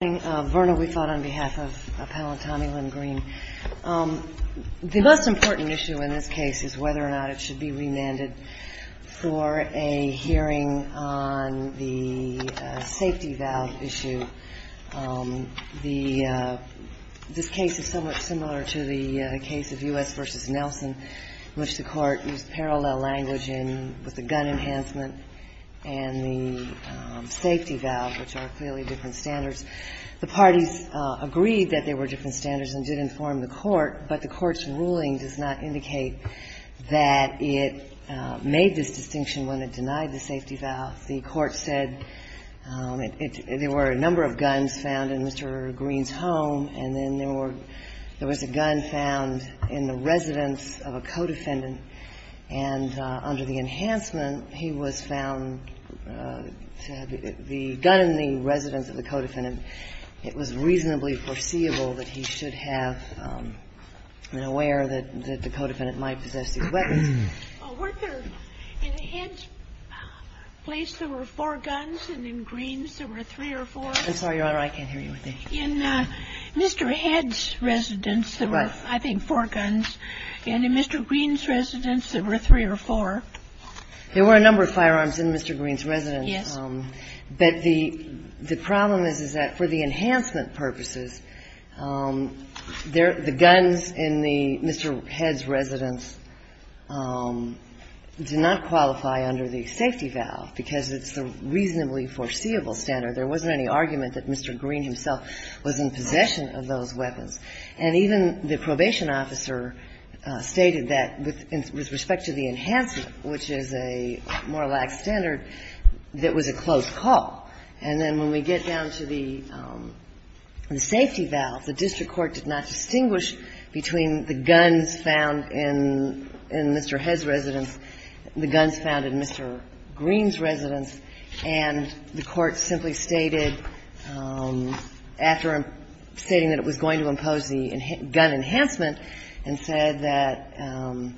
The most important issue in this case is whether or not it should be remanded for a hearing on the safety valve issue. This case is somewhat similar to the case of U.S. v. Nelson in which the Court used parallel language with the gun enhancement and the safety valve, which are clearly different standards. The parties agreed that they were different standards and did inform the Court, but the Court's ruling does not indicate that it made this distinction when it denied the safety valve. The Court said there were a number of guns found in Mr. Greene's home, and then there were – there was a gun found in the residence of a co-defendant. And under the enhancement, he was found to have – the gun in the residence of the co-defendant, it was reasonably foreseeable that he should have been aware that the co-defendant might possess these weapons. Were there – in Head's place, there were four guns, and in Greene's, there were three or four? I'm sorry, Your Honor, I can't hear you. In Mr. Head's residence, there were, I think, four guns. And in Mr. Greene's residence, there were three or four. There were a number of firearms in Mr. Greene's residence. Yes. But the problem is, is that for the enhancement purposes, the guns in the – Mr. Head's residence did not qualify under the safety valve, because it's the reasonably foreseeable standard. There wasn't any argument that Mr. Greene himself was in possession of those weapons. And even the probation officer stated that with respect to the enhancement, which is a more lax standard, that was a close call. And then when we get down to the safety valve, the district court did not distinguish between the guns found in Mr. Head's residence, the guns found in Mr. Greene's residence, and the court simply stated, after stating that it was going to impose the gun enhancement, and said that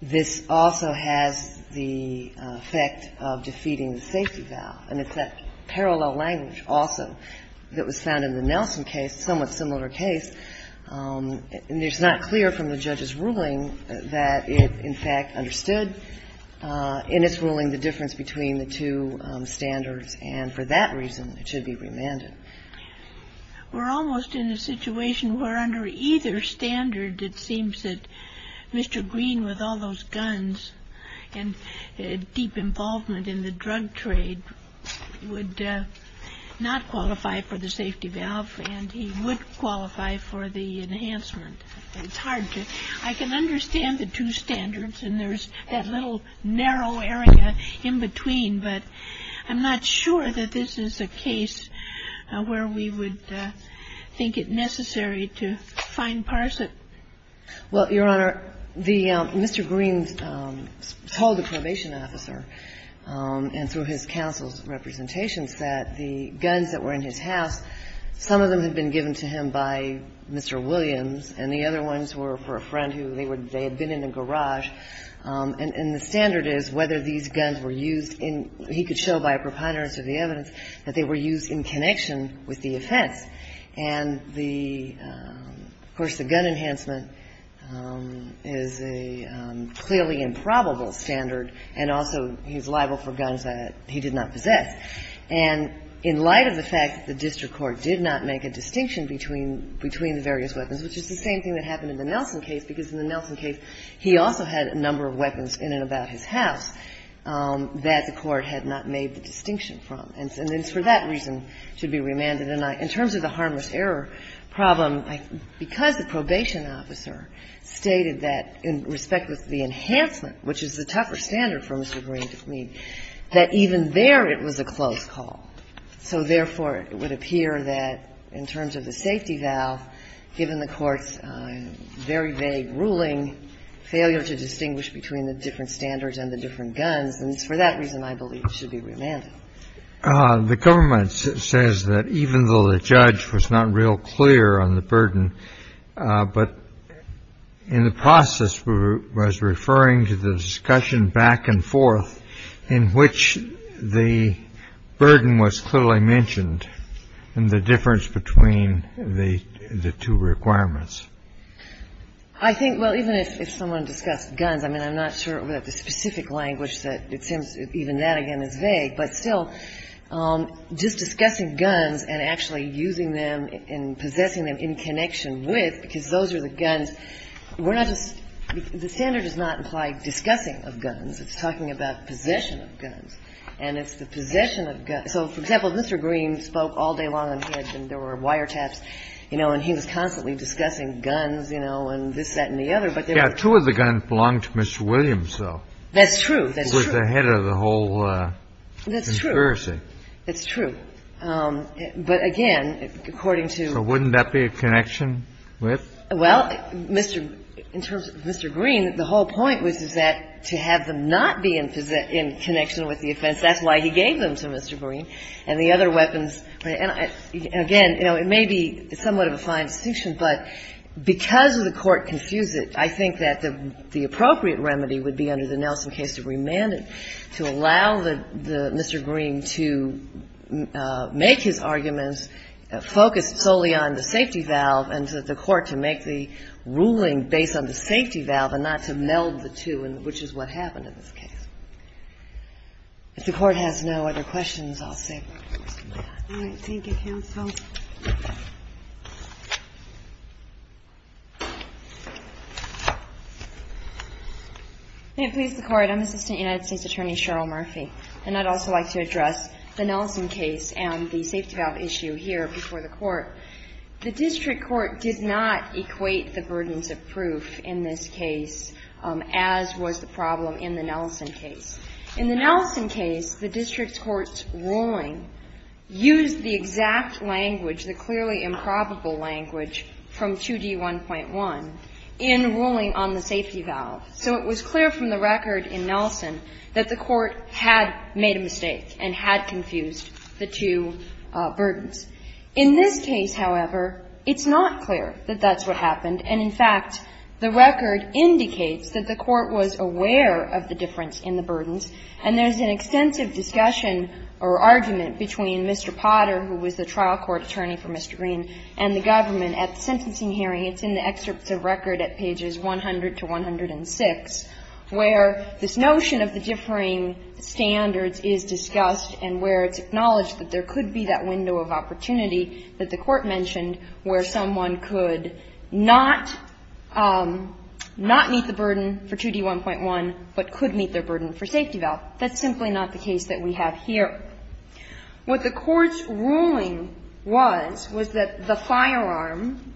this also has the effect of defeating the safety valve. And it's that parallel language also that was found in the Nelson case, a somewhat similar case. And it's not clear from the judge's ruling that it in fact understood in its ruling the difference between the two standards, and for that reason it should be remanded. We're almost in a situation where under either standard it seems that Mr. Greene, with all those guns and deep involvement in the drug trade, would not qualify for the safety valve, and he would qualify for the enhancement. It's hard to – I can understand the two standards, and there's that little narrow area in between, but I'm not sure that this is a case where we would think it necessary to fine-parse it. Well, Your Honor, Mr. Greene told the probation officer, and through his counsel's representations, that the guns that were in his house, some of them had been given to him by Mr. Williams, and the other ones were for a friend who they had been in a relationship with, and so he could show by a preponderance of the evidence that they were used in connection with the offense. And the – of course, the gun enhancement is a clearly improbable standard, and also he's liable for guns that he did not possess. And in light of the fact that the district court did not make a distinction between the various weapons, which is the same thing that happened in the Nelson case, because in the Nelson case he also had a number of weapons in and about his house that the court had not made the distinction from. And it's for that reason to be remanded. And in terms of the harmless error problem, because the probation officer stated that in respect with the enhancement, which is the tougher standard for Mr. Greene to plead, that even there it was a close call. So therefore, it would appear that in terms of the safety valve, given the Court's very vague ruling, failure to distinguish between the different standards and the different guns, and it's for that reason I believe it should be remanded. The government says that even though the judge was not real clear on the burden, but in the process was referring to the discussion back and forth in which the burden was clearly mentioned, and the difference between the two requirements. I think, well, even if someone discussed guns, I mean, I'm not sure that the specific language that it seems, even that again is vague, but still, just discussing guns and actually using them and possessing them in connection with, because those are the guns, we're not just, the standard does not imply discussing of guns, it's talking about possession of guns. And it's the possession of guns. So, for example, Mr. Greene spoke all day long and there were wiretaps, you know, and he was constantly discussing guns, you know, and this, that and the other. But there were two of the guns belonged to Mr. Williams, though. That's true. That's true. Who was the head of the whole conspiracy. That's true. But again, according to So wouldn't that be a connection with? Well, Mr. In terms of Mr. Greene, the whole point was is that to have them not be in connection with the offense, that's why he gave them to Mr. Greene, and the other weapons, and again, you know, it may be somewhat of a fine distinction, but because the Court confused it, I think that the appropriate remedy would be under the Nelson case to remand it, to allow the, Mr. Greene to make his arguments focused solely on the safety valve and to the Court to make the ruling based on the safety valve and not to meld the two, which is what happened in this case. If the Court has no other questions, I'll save them for some time. All right. Thank you, counsel. May it please the Court. I'm Assistant United States Attorney Cheryl Murphy, and I'd also like to address the Nelson case and the safety valve issue here before the Court. The district court did not equate the burdens of proof in this case, as was the problem in the Nelson case. In the Nelson case, the district court's ruling used the exact language, the clearly improbable language from 2D1.1 in ruling on the safety valve. So it was clear from the record in Nelson that the Court had made a mistake and had confused the two burdens. In this case, however, it's not clear that that's what happened, and in fact, the record indicates that the Court was aware of the difference in the burdens, and there's an extensive discussion or argument between Mr. Potter, who was the trial court attorney for Mr. Green, and the government at the sentencing hearing. It's in the excerpts of record at pages 100 to 106, where this notion of the differing standards is discussed and where it's acknowledged that there could be that window of opportunity that the Court mentioned where someone could not meet the burden for 2D1.1, but could meet their burden for safety valve. That's simply not the case that we have here. What the Court's ruling was, was that the firearm,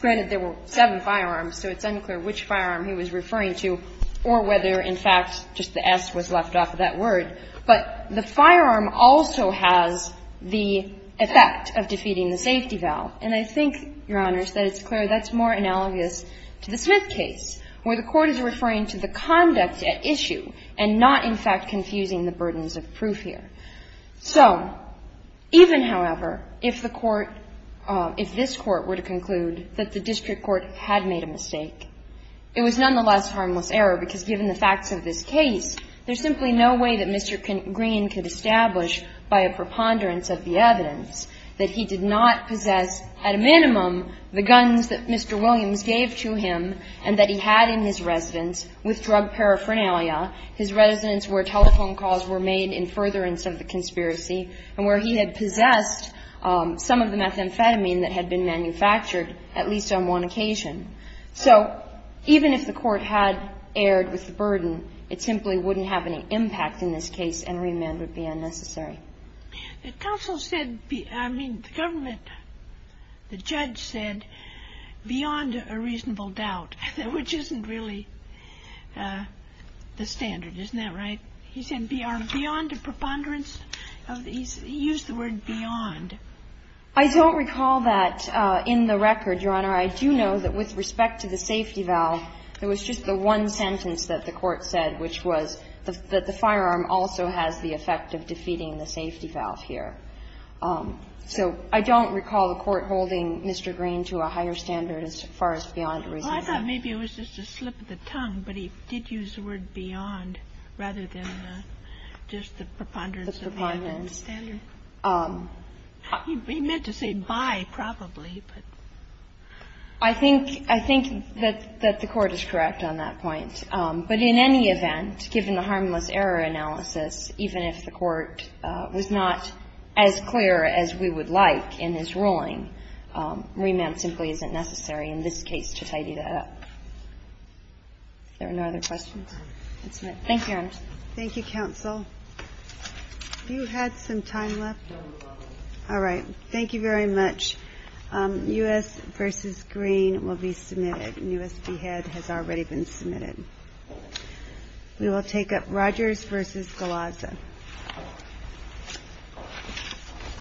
granted there were seven firearms, so it's unclear which firearm he was referring to or whether, in fact, just the S was left off of that word, but the firearm also has the effect of defeating the safety valve. And I think, Your Honors, that it's clear that's more analogous to the Smith case, where the Court is referring to the conduct at issue and not, in fact, confusing the burdens of proof here. So even, however, if the Court – if this Court were to conclude that the district court had made a mistake, it was nonetheless harmless error, because given the facts of this case, there's simply no way that Mr. Green could establish by a preponderance of the evidence that he did not possess, at a minimum, the guns that Mr. Williams gave to him and that he had in his residence with drug paraphernalia, his residence where telephone calls were made in furtherance of the conspiracy, and where he had possessed some of the methamphetamine that had been manufactured, at least on one occasion. So even if the Court had erred with the burden, it simply wouldn't have any impact in this case, and remand would be unnecessary. The counsel said – I mean, the government – the judge said, beyond a reasonable doubt, which isn't really the standard, isn't that right? He said, beyond a preponderance of – he used the word beyond. I don't recall that in the record, Your Honor. I do know that with respect to the safety valve, there was just the one sentence that the Court said, which was that the firearm also has the effect of defeating the safety valve here. So I don't recall the Court holding Mr. Green to a higher standard as far as beyond a reasonable doubt. Well, I thought maybe it was just a slip of the tongue, but he did use the word beyond, rather than just the preponderance of the standard. He meant to say by, probably, but – I think that the Court is correct on that point. But in any event, given the harmless error analysis, even if the Court was not as clear as we would like in this ruling, remand simply isn't necessary in this case to tidy that up. If there are no other questions. Thank you, Your Honor. Thank you, counsel. Have you had some time left? No, Your Honor. All right. Thank you very much. U.S. v. Green will be submitted, and U.S. v. Head has already been submitted. We will take up Rogers v. Galazza.